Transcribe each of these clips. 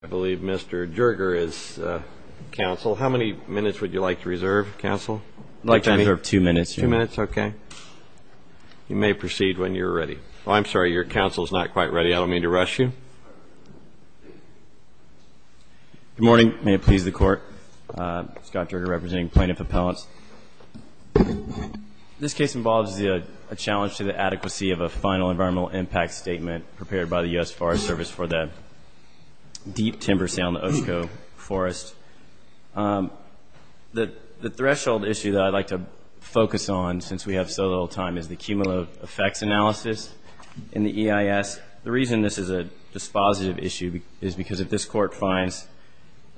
I believe Mr. Jerger is counsel. How many minutes would you like to reserve, counsel? You may proceed when you're ready. I'm sorry, your counsel is not quite ready. I don't mean to rush you. Good morning. May it please the Court. Scott Jerger, representing plaintiff appellants. This case involves a challenge to the adequacy of a final environmental impact statement prepared by the U.S. Forest Service for the deep timber sale in the Oshkosh Forest. The threshold issue that I'd like to focus on, since we have so little time, is the cumulative effects analysis in the EIS. The reason this is a dispositive issue is because if this Court finds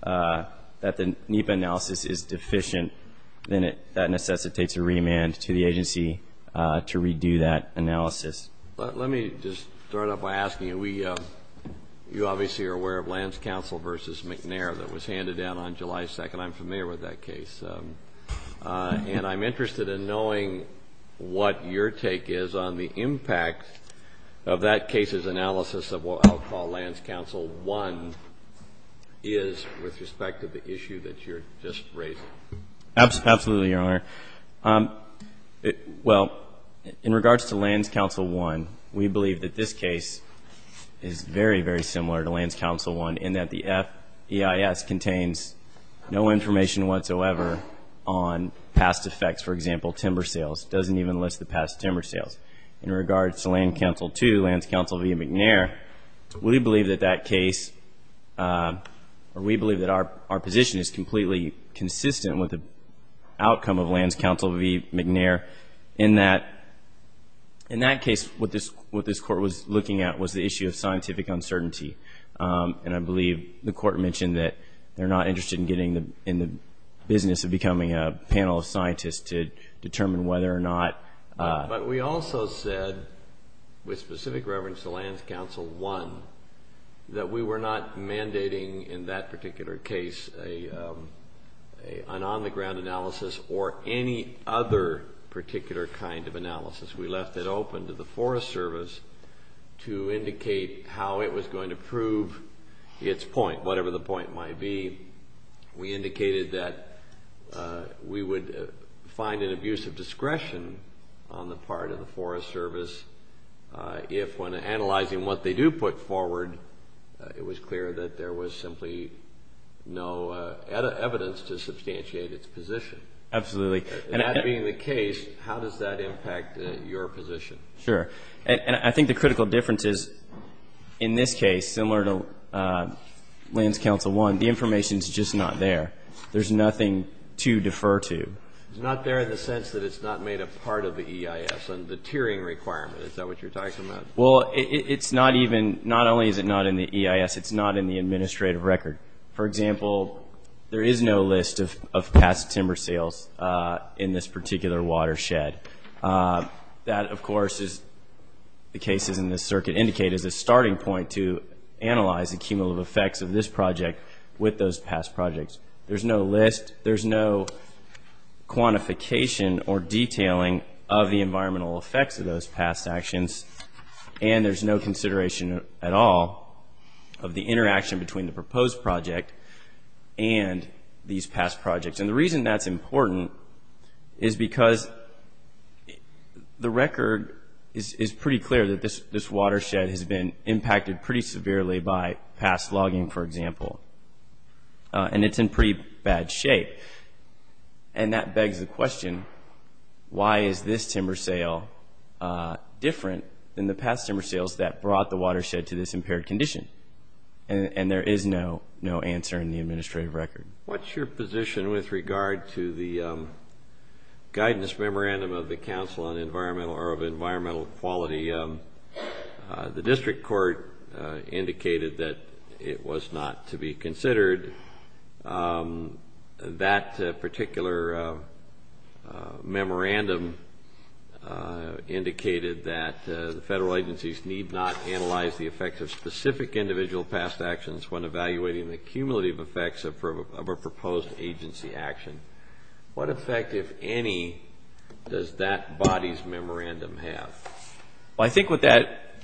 that the NEPA analysis is deficient, then that necessitates a remand to the agency to redo that analysis. Let me just start off by asking you, you obviously are aware of Lands Council v. McNair that was handed down on July 2nd. I'm familiar with that case. And I'm interested in knowing what your take is on the impact of that case's analysis of what I'll call Lands Council 1 is with respect to the issue that you're just raising. Absolutely, Your Honor. Well, in regards to Lands Council 1, we believe that this case is very, very similar to Lands Council 1 in that the FEIS contains no information whatsoever on past effects, for example, timber sales. It doesn't even list the past timber sales. In regards to Lands Council 2, Lands Council v. McNair, we believe that that case, or we believe that our position is completely consistent with the outcome of Lands Council v. McNair in that, in that case, what this Court was looking at was the issue of scientific uncertainty. And I believe the Court mentioned that they're not interested in getting in the business of becoming a panel of scientists to determine whether or not... that we were not mandating in that particular case an on-the-ground analysis or any other particular kind of analysis. We left it open to the Forest Service to indicate how it was going to prove its point, whatever the point might be. We indicated that we would find an abuse of discretion on the part of the Forest Service if, when analyzing what they do put forward, it was clear that there was simply no evidence to substantiate its position. Absolutely. That being the case, how does that impact your position? Sure. And I think the critical difference is, in this case, similar to Lands Council 1, the information's just not there. There's nothing to defer to. It's not there in the sense that it's not made a part of the EIS and the tiering requirement. Is that what you're talking about? Well, it's not even, not only is it not in the EIS, it's not in the administrative record. For example, there is no list of past timber sales in this particular watershed. That, of course, as the cases in this circuit indicate, is a starting point to analyze the cumulative effects of this project with those past projects. There's no list, there's no quantification or detailing of the environmental effects of those past actions, and there's no consideration at all of the interaction between the proposed project and these past projects. And the reason that's important is because the record is pretty clear that this watershed has been impacted pretty severely by past logging, for example. And it's in pretty bad shape, and that begs the question, why is this timber sale different than the past timber sales that brought the watershed to this impaired condition? And there is no answer in the administrative record. What's your position with regard to the guidance memorandum of the Council on Environmental Quality? The district court indicated that it was not to be considered. That particular memorandum indicated that the federal agencies need not analyze the effects of specific individual past actions when evaluating the cumulative effects of a proposed agency action. What effect, if any, does that body's memorandum have? Well, I think what that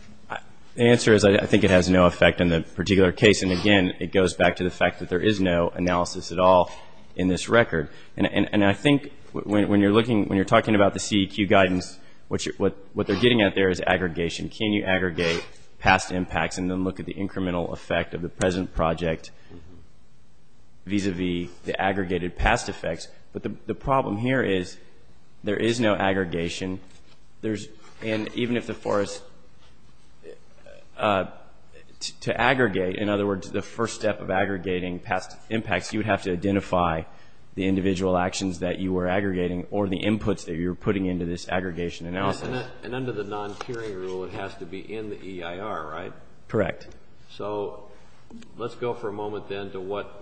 answer is, I think it has no effect on the particular case. And again, it goes back to the fact that there is no analysis at all in this record. And I think when you're looking, when you're talking about the CEQ guidance, what they're getting at there is aggregation. Can you aggregate past impacts and then look at the incremental effect of the present project vis-a-vis the aggregated past effects? But the problem here is there is no aggregation. And even if the forest, to aggregate, in other words, the first step of aggregating past impacts, you would have to identify the individual actions that you were aggregating or the inputs that you were putting into this aggregation analysis. And under the non-peering rule, it has to be in the EIR, right? Correct. So let's go for a moment then to what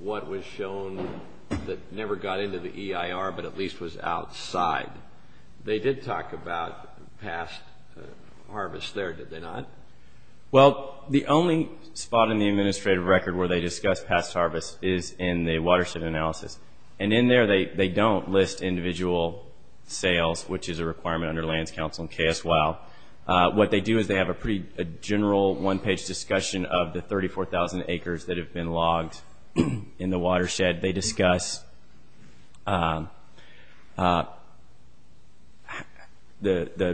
was shown that never got into the EIR but at least was outside. They did talk about past harvest there, did they not? Well, the only spot in the administrative record where they discuss past harvest is in the watershed analysis. And in there, they don't list individual sales, which is a requirement under Lands Council and KSWOW. What they do is they have a pretty general one-page discussion of the 34,000 acres that have been logged in the watershed. They discuss the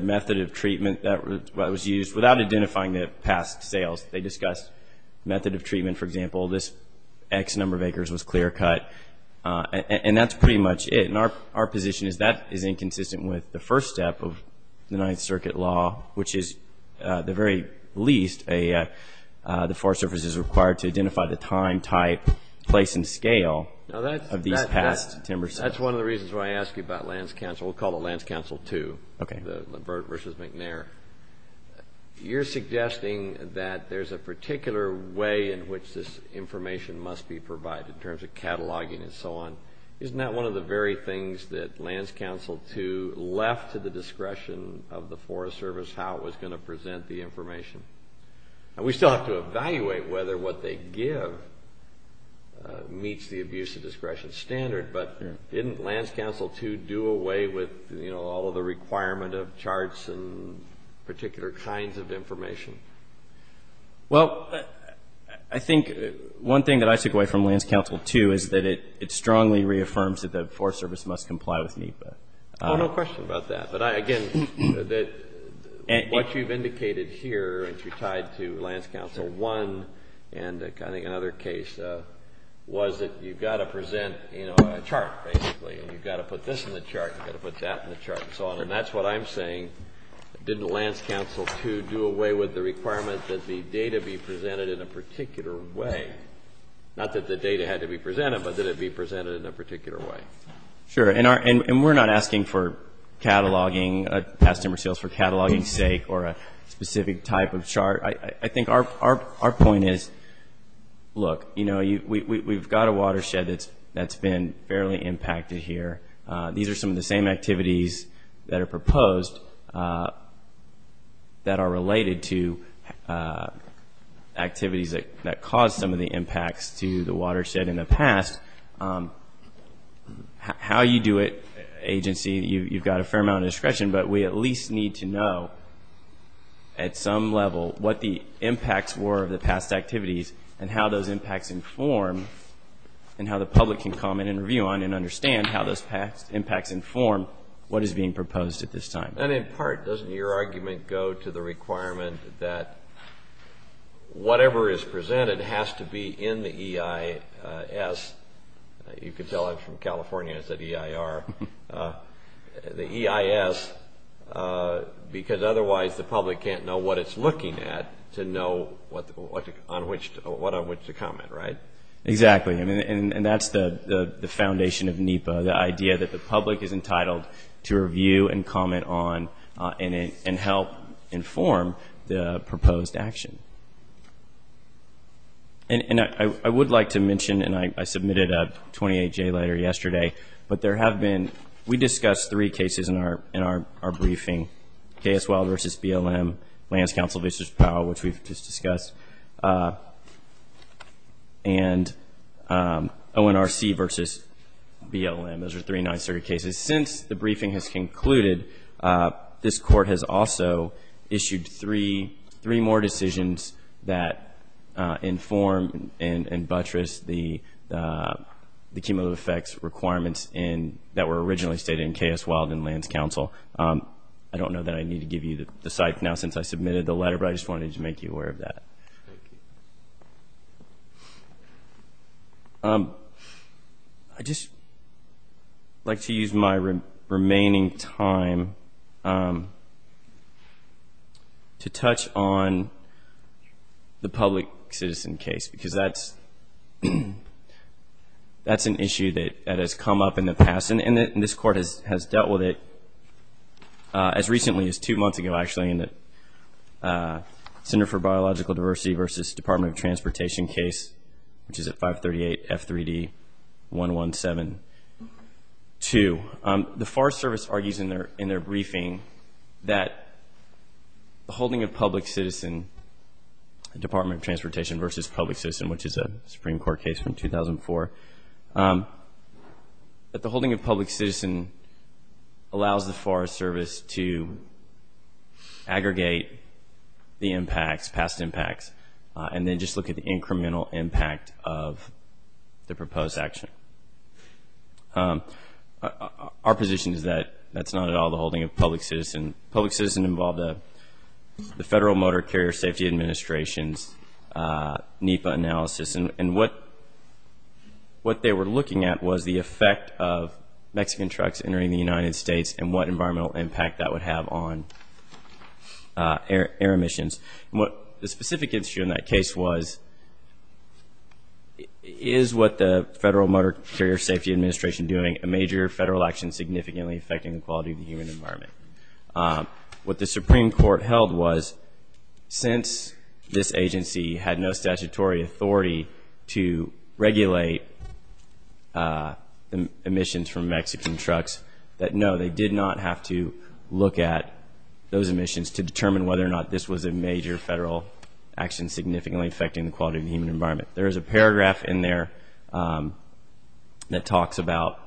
method of treatment that was used without identifying the past sales. They discuss method of treatment, for example, this X number of acres was clear cut. And that's pretty much it. And our position is that is inconsistent with the first step of the Ninth Circuit law, which is at the very least the Forest Service is required to identify the time, type, place, and scale of these past timber sales. That's one of the reasons why I ask you about Lands Council. We'll call it Lands Council 2 versus McNair. You're suggesting that there's a particular way in which this information must be provided in terms of cataloging and so on. Isn't that one of the very things that Lands Council 2 left to the discretion of the Forest Service, how it was going to present the information? And we still have to evaluate whether what they give meets the abuse of discretion standard, but didn't Lands Council 2 do away with all of the requirement of charts and particular kinds of information? Well, I think one thing that I took away from Lands Council 2 is that it strongly reaffirms that the Forest Service must comply with NEPA. I don't have a question about that. But, again, what you've indicated here, and you're tied to Lands Council 1 and I think another case, was that you've got to present a chart, basically, and you've got to put this in the chart, you've got to put that in the chart, and so on. And that's what I'm saying. Didn't Lands Council 2 do away with the requirement that the data be presented in a particular way? Not that the data had to be presented, but that it be presented in a particular way. Sure. And we're not asking for cataloging, Past Timber Sales, for cataloging's sake or a specific type of chart. I think our point is, look, you know, we've got a watershed that's been fairly impacted here. These are some of the same activities that are proposed that are related to activities that caused some of the impacts to the watershed in the past. How you do it, agency, you've got a fair amount of discretion, but we at least need to know at some level what the impacts were of the past activities and how those impacts inform and how the public can comment and review on and understand how those impacts inform what is being proposed at this time. And in part, doesn't your argument go to the requirement that whatever is presented has to be in the EIS? You can tell I'm from California, it's the EIR. The EIS, because otherwise the public can't know what it's looking at to know what on which to comment, right? Exactly, and that's the foundation of NEPA, the idea that the public is entitled to review and comment on and help inform the proposed action. And I would like to mention, and I submitted a 28-J letter yesterday, but there have been, we discussed three cases in our briefing, KSWI versus BLM, Lands Council versus Powell, which we've just discussed, and ONRC versus BLM, those are three Ninth Circuit cases. Since the briefing has concluded, this Court has also issued three more decisions that inform and buttress the cumulative effects requirements that were originally stated in KSWI and Lands Council. I don't know that I need to give you the site now since I submitted the letter, but I just wanted to make you aware of that. Thank you. I'd just like to use my remaining time to touch on the public citizen case, because that's an issue that has come up in the past, and this Court has dealt with it as recently as two months ago, actually, in the Center for Biological Diversity versus Department of Transportation case, which is at 538 F3D 1172. The Forest Service argues in their briefing that the holding of public citizen, the Department of Transportation versus public citizen, which is a Supreme Court case from 2004, that the holding of public citizen allows the Forest Service to aggregate the impacts, past impacts, and then just look at the incremental impact of the proposed action. Our position is that that's not at all the holding of public citizen. Public citizen involved the Federal Motor Carrier Safety Administration's NEPA analysis, and what they were looking at was the effect of Mexican trucks entering the United States and what environmental impact that would have on air emissions. And what the specific issue in that case was, is what the Federal Motor Carrier Safety Administration doing, a major federal action significantly affecting the quality of the human environment? What the Supreme Court held was, since this agency had no statutory authority to regulate emissions from Mexican trucks, that no, they did not have to look at those emissions to determine whether or not this was a major federal action significantly affecting the quality of the human environment. There is a paragraph in there that talks about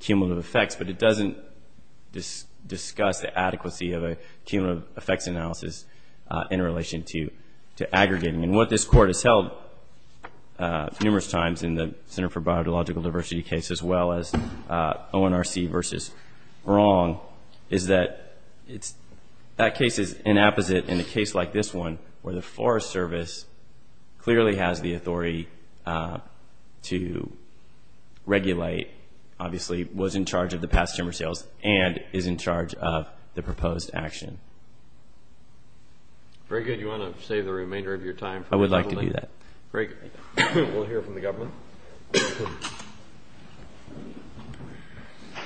cumulative effects, but it doesn't discuss the adequacy of a cumulative effects analysis in relation to aggregating. And what this Court has held numerous times in the Center for Biological Diversity case as well as ONRC versus is that that case is inapposite in a case like this one where the Forest Service clearly has the authority to regulate, obviously was in charge of the past timber sales, and is in charge of the proposed action. Very good. Do you want to save the remainder of your time for the government? I would like to do that. Great. We'll hear from the government.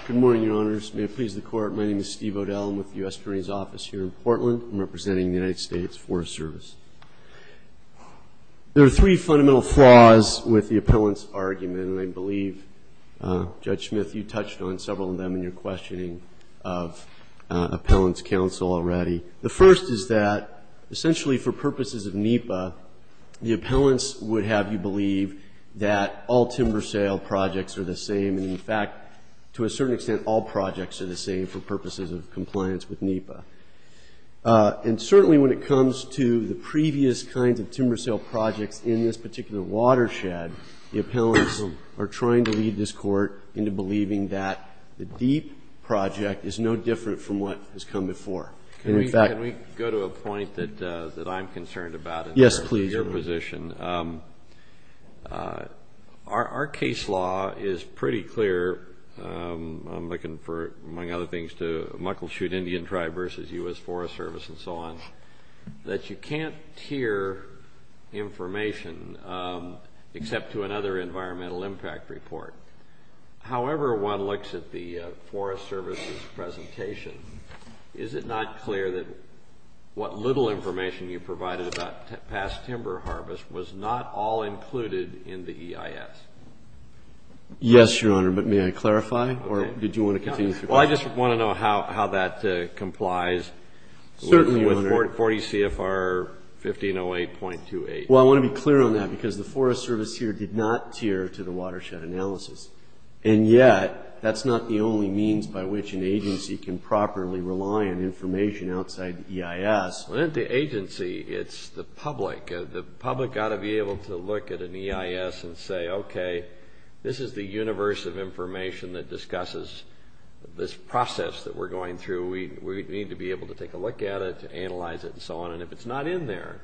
Good morning, Your Honors. May it please the Court. My name is Steve O'Dell. I'm with the U.S. Marine's Office here in Portland. I'm representing the United States Forest Service. There are three fundamental flaws with the appellant's argument, and I believe, Judge Smith, you touched on several of them in your questioning of appellant's counsel already. The first is that essentially for purposes of NEPA, the appellants would have you believe that all timber sale projects are the same, and, in fact, to a certain extent all projects are the same for purposes of compliance with NEPA. And certainly when it comes to the previous kinds of timber sale projects in this particular watershed, the appellants are trying to lead this Court into believing that the deep project is no different from what has come before. Can we go to a point that I'm concerned about in terms of your position? Yes, please. Our case law is pretty clear. I'm looking for, among other things, to Muckleshoot Indian Tribe versus U.S. Forest Service and so on, that you can't hear information except to another environmental impact report. However one looks at the Forest Service's presentation, is it not clear that what little information you provided about past timber harvest was not all included in the EIS? Yes, Your Honor, but may I clarify, or did you want to continue? Well, I just want to know how that complies with 40 CFR 1508.28. Well, I want to be clear on that because the Forest Service here did not tier to the watershed analysis. And yet, that's not the only means by which an agency can properly rely on information outside the EIS. Well, not the agency, it's the public. The public ought to be able to look at an EIS and say, okay, this is the universe of information that discusses this process that we're going through. We need to be able to take a look at it, analyze it, and so on. If it's not in there,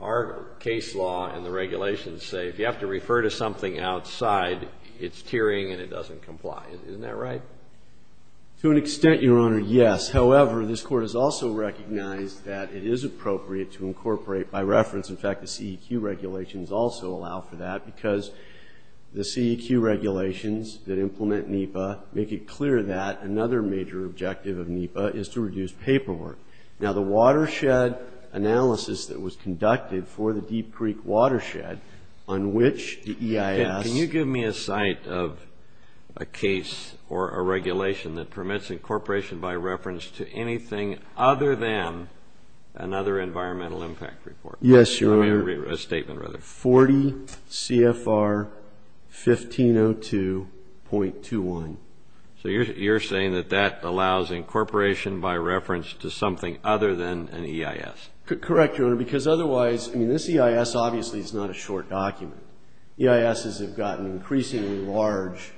our case law and the regulations say, if you have to refer to something outside, it's tiering and it doesn't comply. Isn't that right? To an extent, Your Honor, yes. However, this Court has also recognized that it is appropriate to incorporate, by reference, in fact the CEQ regulations also allow for that because the CEQ regulations that implement NEPA make it clear that another major objective of NEPA is to reduce paperwork. Now, the watershed analysis that was conducted for the Deep Creek watershed on which the EIS... Can you give me a site of a case or a regulation that permits incorporation by reference to anything other than another environmental impact report? Yes, Your Honor. A statement, rather. 40 CFR 1502.21. So you're saying that that allows incorporation by reference to something other than an EIS? Correct, Your Honor, because otherwise... I mean, this EIS obviously is not a short document. EISs have gotten increasingly large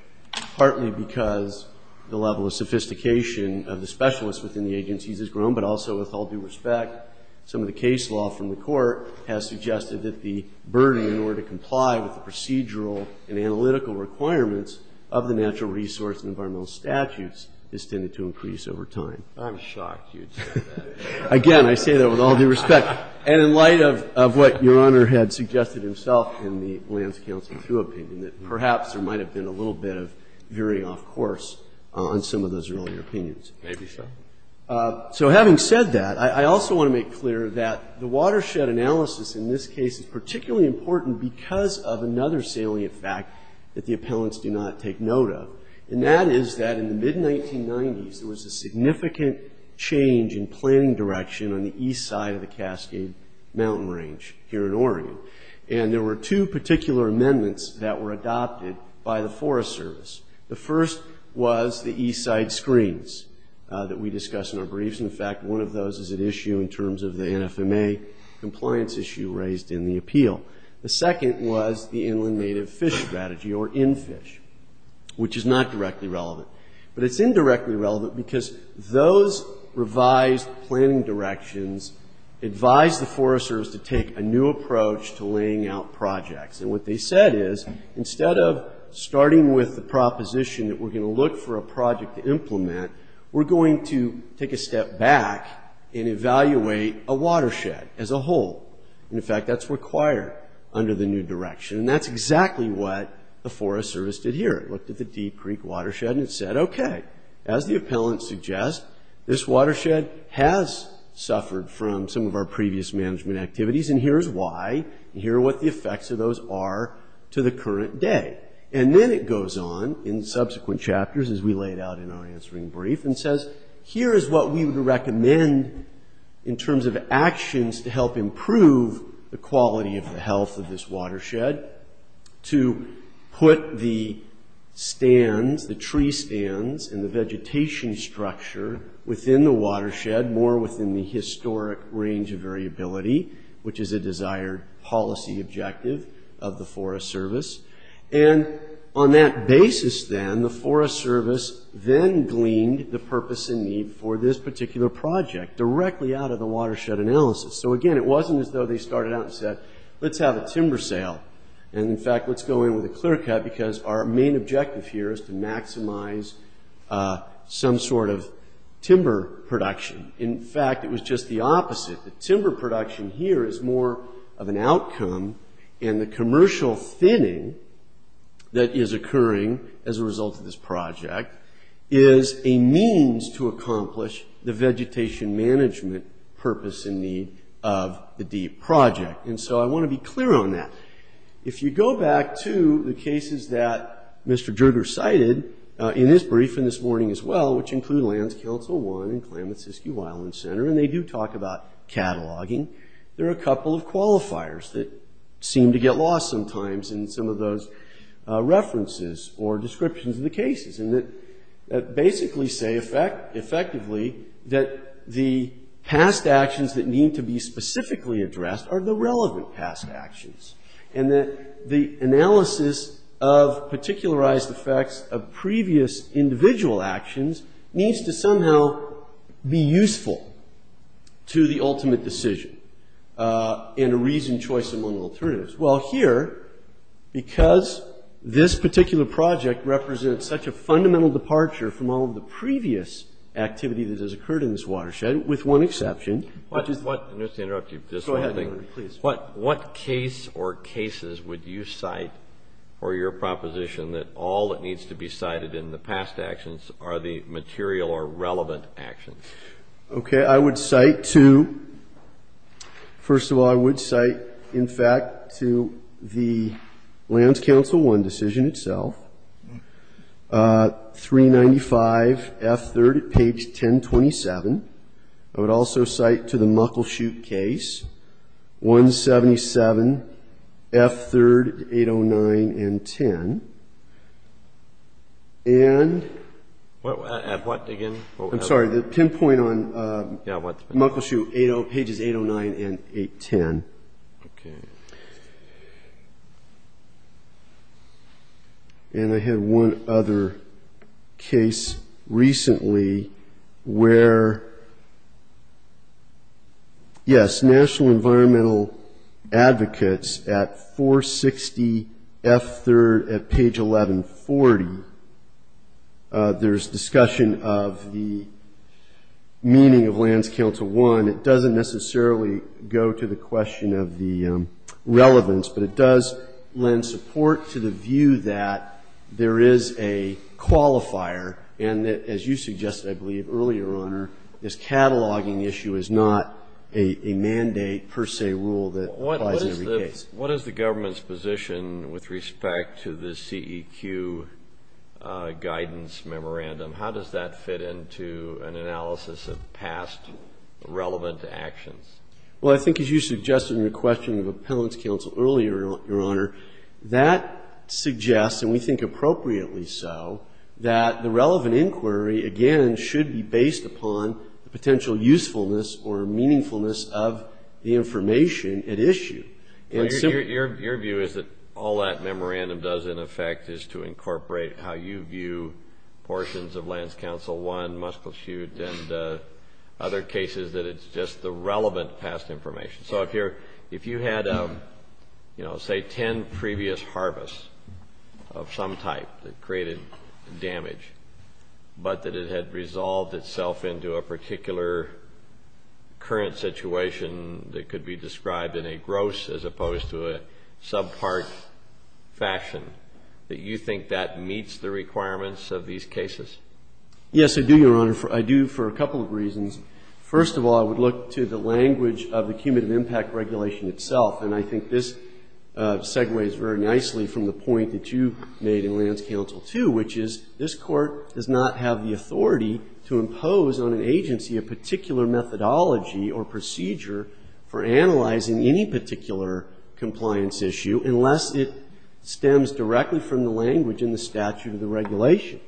partly because the level of sophistication of the specialists within the agencies has grown, but also with all due respect, some of the case law from the Court has suggested that the burden in order to comply with the procedural and analytical requirements of the Natural Resource and Environmental Statutes has tended to increase over time. I'm shocked you'd say that. Again, I say that with all due respect. And in light of what Your Honor had suggested himself in the Lands Council, too, opinion, that perhaps there might have been a little bit of veering off course on some of those earlier opinions. Maybe so. So having said that, I also want to make clear that the watershed analysis in this case is particularly important because of another salient fact that the appellants do not take note of, and that is that in the mid-1990s there was a significant change in planning direction on the east side of the Cascade Mountain Range here in Oregon. And there were two particular amendments that were adopted by the Forest Service. The first was the east side screens that we discussed in our briefs. In fact, one of those is at issue in terms of the NFMA compliance issue raised in the appeal. The second was the Inland Native Fish Strategy, or NFISH, which is not directly relevant. But it's indirectly relevant because those revised planning directions advised the Forest Service to take a new approach to laying out projects. And what they said is, instead of starting with the proposition that we're going to look for a project to implement, we're going to take a step back and evaluate a watershed as a whole. And, in fact, that's required under the new direction. And that's exactly what the Forest Service did here. It looked at the Deep Creek Watershed and it said, okay, as the appellant suggests, this watershed has suffered from some of our previous management activities, and here's why. And here are what the effects of those are to the current day. And then it goes on in subsequent chapters as we lay it out in our answering brief and says, here is what we would recommend in terms of actions to help improve the quality of the health of this watershed, to put the stands, the tree stands, and the vegetation structure within the watershed, more within the historic range of variability, which is a desired policy objective of the Forest Service. And on that basis, then, the Forest Service then gleaned the purpose and need for this particular project, directly out of the watershed analysis. So, again, it wasn't as though they started out and said, let's have a timber sale. And, in fact, let's go in with a clear cut because our main objective here is to maximize some sort of timber production. In fact, it was just the opposite. The timber production here is more of an outcome, and the commercial thinning that is occurring as a result of this project is a means to accomplish the vegetation management purpose and need of the DEEP project. And so I want to be clear on that. If you go back to the cases that Mr. Jerger cited in his brief and this morning as well, which include Lands Council 1 and Klamath-Siskiwe Island Center, and they do talk about cataloging, there are a couple of qualifiers that seem to get lost sometimes in some of those references or descriptions of the cases, and that basically say effectively that the past actions that need to be specifically addressed are the relevant past actions, and that the analysis of particularized effects of previous individual actions needs to somehow be useful to the ultimate decision and a reasoned choice among alternatives. Well, here, because this particular project represents such a fundamental departure from all of the previous activity that has occurred in this watershed, with one exception. What case or cases would you cite for your proposition that all that needs to be cited in the past actions are the material or relevant actions? Okay. I would cite two. First of all, I would cite, in fact, to the Lands Council 1 decision itself, 395F3 at page 1027. I would also cite to the Muckleshoot case, 177F3, 809 and 10. And... At what again? I'm sorry. The pinpoint on Muckleshoot, pages 809 and 810. Okay. And I had one other case recently where, yes, National Environmental Advocates at 460F3 at page 1140. There's discussion of the meaning of Lands Council 1. It doesn't necessarily go to the question of the relevance, but it does lend support to the view that there is a qualifier and that, as you suggested, I believe, earlier, Your Honor, this cataloging issue is not a mandate per se rule that applies in every case. What is the government's position with respect to the CEQ guidance memorandum? How does that fit into an analysis of past relevant actions? Well, I think as you suggested in your question of Appellant's counsel earlier, Your Honor, that suggests, and we think appropriately so, that the relevant inquiry, again, should be based upon the potential usefulness or meaningfulness of the information at issue. Your view is that all that memorandum does, in effect, is to incorporate how you view portions of Lands Council 1, Muckleshoot, and other cases that it's just the relevant past information. So if you had, say, ten previous harvests of some type that created damage, but that it had resolved itself into a particular current situation that could be described in a gross as opposed to a subpart fashion, that you think that meets the requirements of these cases? Yes, I do, Your Honor. I do for a couple of reasons. First of all, I would look to the language of the cumulative impact regulation itself, and I think this segues very nicely from the point that you made in Lands Council 2, which is this Court does not have the authority to impose on an agency a particular methodology or procedure for analyzing any particular compliance issue unless it stems directly from the language in the statute of the regulation.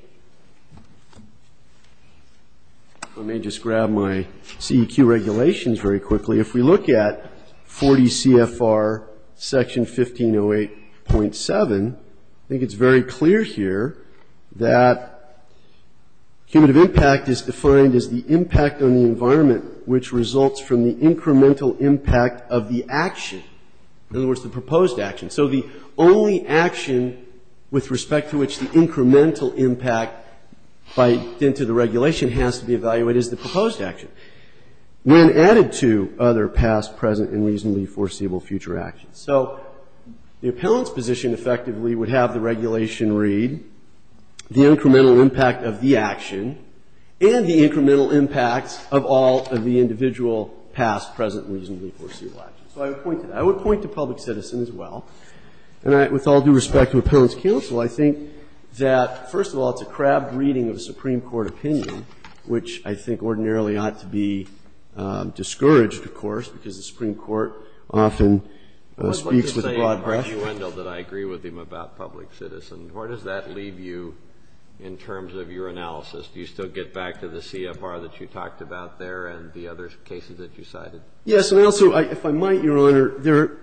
Let me just grab my CEQ regulations very quickly. If we look at 40 CFR Section 1508.7, I think it's very clear here that cumulative impact is defined as the impact on the environment which results from the incremental impact of the action, in other words, the proposed action. So the only action with respect to which the incremental impact by the end to the regulation has to be evaluated is the proposed action. When added to other past, present, and reasonably foreseeable future actions. So the appellant's position effectively would have the regulation read the incremental impact of the action and the incremental impacts of all of the individual past, present, and reasonably foreseeable actions. So I would point to that. I would point to public citizen as well. And with all due respect to Appellant's counsel, I think that, first of all, it's a crabbed reading of a Supreme Court opinion, which I think ordinarily ought to be discouraged, of course, because the Supreme Court often speaks with a broad breast. Kennedy. I'd like to say in accruendle that I agree with him about public citizen. Where does that leave you in terms of your analysis? Do you still get back to the CFR that you talked about there and the other cases that you cited? Yes. And also, if I might, Your Honor,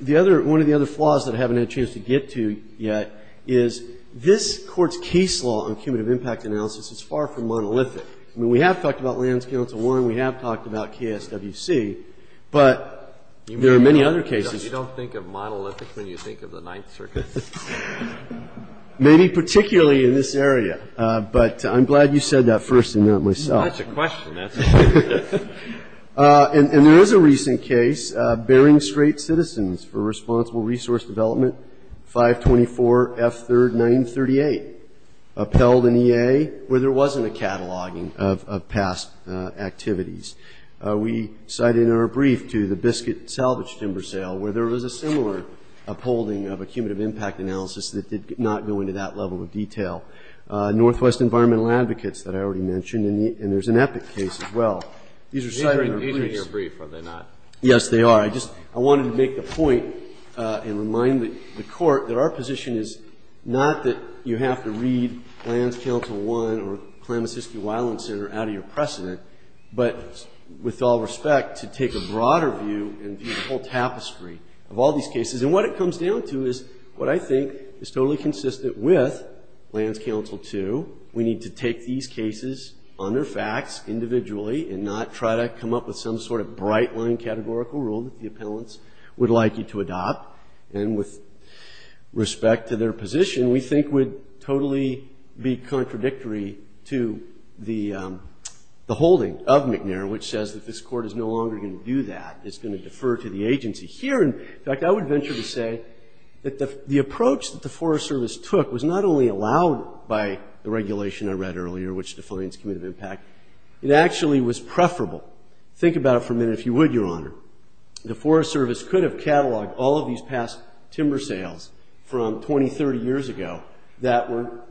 the other one of the other flaws that I haven't had a chance to get to yet is this Court's case law on cumulative impact analysis is far from monolithic. I mean, we have talked about Lands Council 1. We have talked about KSWC. But there are many other cases. You don't think of monolithic when you think of the Ninth Circuit? Maybe particularly in this area. But I'm glad you said that first and not myself. That's a question. That's a question. And there is a recent case, Bearing Strait Citizens for Responsible Resource Development, 524 F. 3rd, 1938, upheld in EA where there wasn't a cataloging of past activities. We cited in our brief to the Biscuit Salvage Timber Sale where there was a similar upholding of a cumulative impact analysis that did not go into that level of detail. Northwest Environmental Advocates that I already mentioned. And there's an EPIC case as well. These are cited in our brief. These are in your brief, are they not? Yes, they are. I just wanted to make the point and remind the Court that our position is not that you have to read Lands Council 1 or Klamasiski-Wyland Center out of your precedent, but with all respect, to take a broader view and view the whole tapestry of all these cases. And what it comes down to is what I think is totally consistent with Lands Council 2. We need to take these cases on their facts individually and not try to come up with some sort of bright-line categorical rule that the appellants would like you to adopt. And with respect to their position, we think would totally be contradictory to the holding of McNair, which says that this Court is no longer going to do that. It's going to defer to the agency. Here, in fact, I would venture to say that the approach that the Forest Service took was not only allowed by the regulation I read earlier, which defines committive impact, it actually was preferable. Think about it for a minute, if you would, Your Honor. The Forest Service could have cataloged all of these past timber sales from 20, 30 years ago that were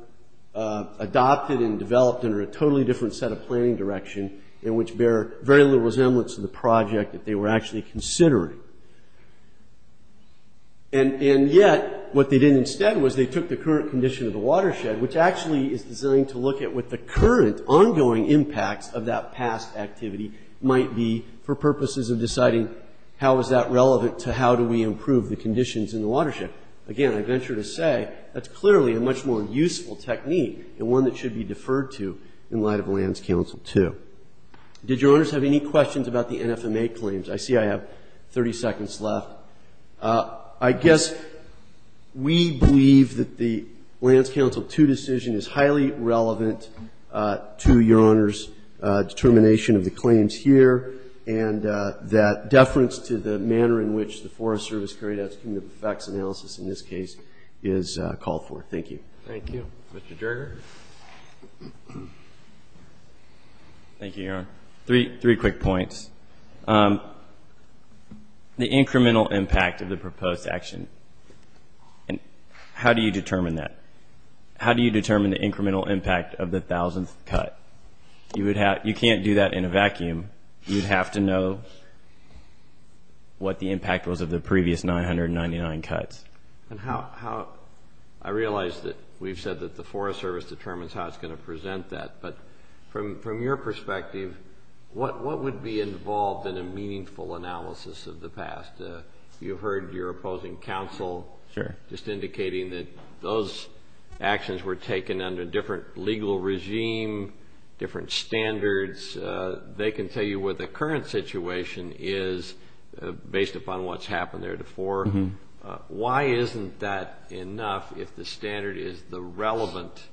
adopted and developed under a totally different set of planning direction and which bear very little resemblance to the project that they were actually considering. And yet what they did instead was they took the current condition of the watershed, which actually is designed to look at what the current ongoing impacts of that past activity might be for purposes of deciding how is that relevant to how do we improve the conditions in the watershed. Again, I venture to say that's clearly a much more useful technique and one that should be deferred to in light of Lands Council 2. Did Your Honors have any questions about the NFMA claims? I see I have 30 seconds left. I guess we believe that the Lands Council 2 decision is highly relevant to Your Honors' determination of the claims here and that deference to the manner in which the Forest Service carried out its committive effects analysis in this case is called for. Thank you. Thank you. Mr. Jerger. Thank you, Your Honor. Three quick points. The incremental impact of the proposed action, how do you determine that? How do you determine the incremental impact of the thousandth cut? You can't do that in a vacuum. You'd have to know what the impact was of the previous 999 cuts. I realize that we've said that the Forest Service determines how it's going to present that, but from your perspective, what would be involved in a meaningful analysis of the past? You've heard your opposing counsel just indicating that those actions were taken under different legal regime, different standards. They can tell you where the current situation is based upon what's happened there before. Why isn't that enough if the standard is the relevant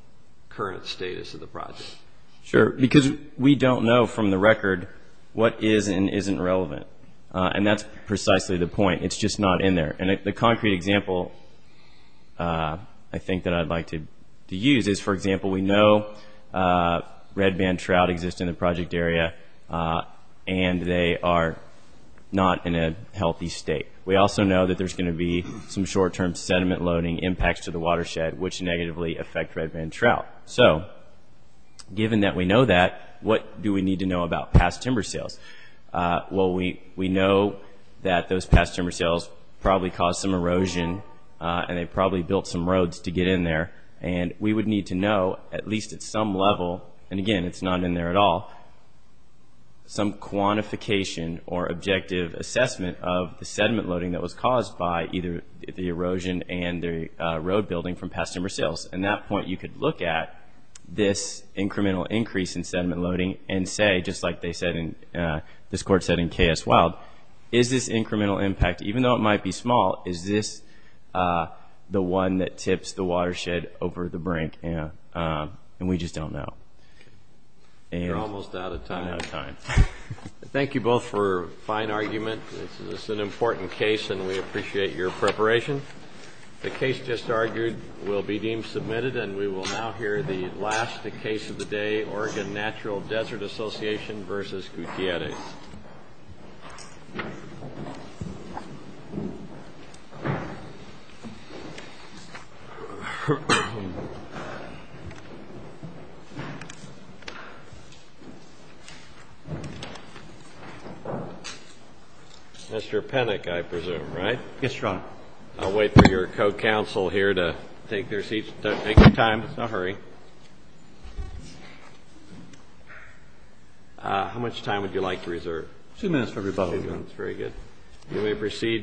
current status of the project? Sure, because we don't know from the record what is and isn't relevant, and that's precisely the point. It's just not in there. And the concrete example I think that I'd like to use is, for example, we know red band trout exist in the project area and they are not in a healthy state. We also know that there's going to be some short-term sediment loading impacts to the watershed, which negatively affect red band trout. So given that we know that, what do we need to know about past timber sales? Well, we know that those past timber sales probably caused some erosion and they probably built some roads to get in there, and we would need to know at least at some level, and again, it's not in there at all, some quantification or objective assessment of the sediment loading that was caused by either the erosion and the road building from past timber sales. At that point, you could look at this incremental increase in sediment loading and say, just like this court said in K.S. Wild, is this incremental impact, even though it might be small, is this the one that tips the watershed over the brink? And we just don't know. We're almost out of time. Thank you both for a fine argument. This is an important case, and we appreciate your preparation. The case just argued will be deemed submitted, and we will now hear the last case of the day, Oregon Natural Desert Association v. Gutierrez. Mr. Penick, I presume, right? Yes, Your Honor. I'll wait for your co-counsel here to take their seats. Don't take your time. Don't hurry. How much time would you like to reserve? Two minutes for rebuttal, Your Honor. Very good. You may proceed, Mr. Penick.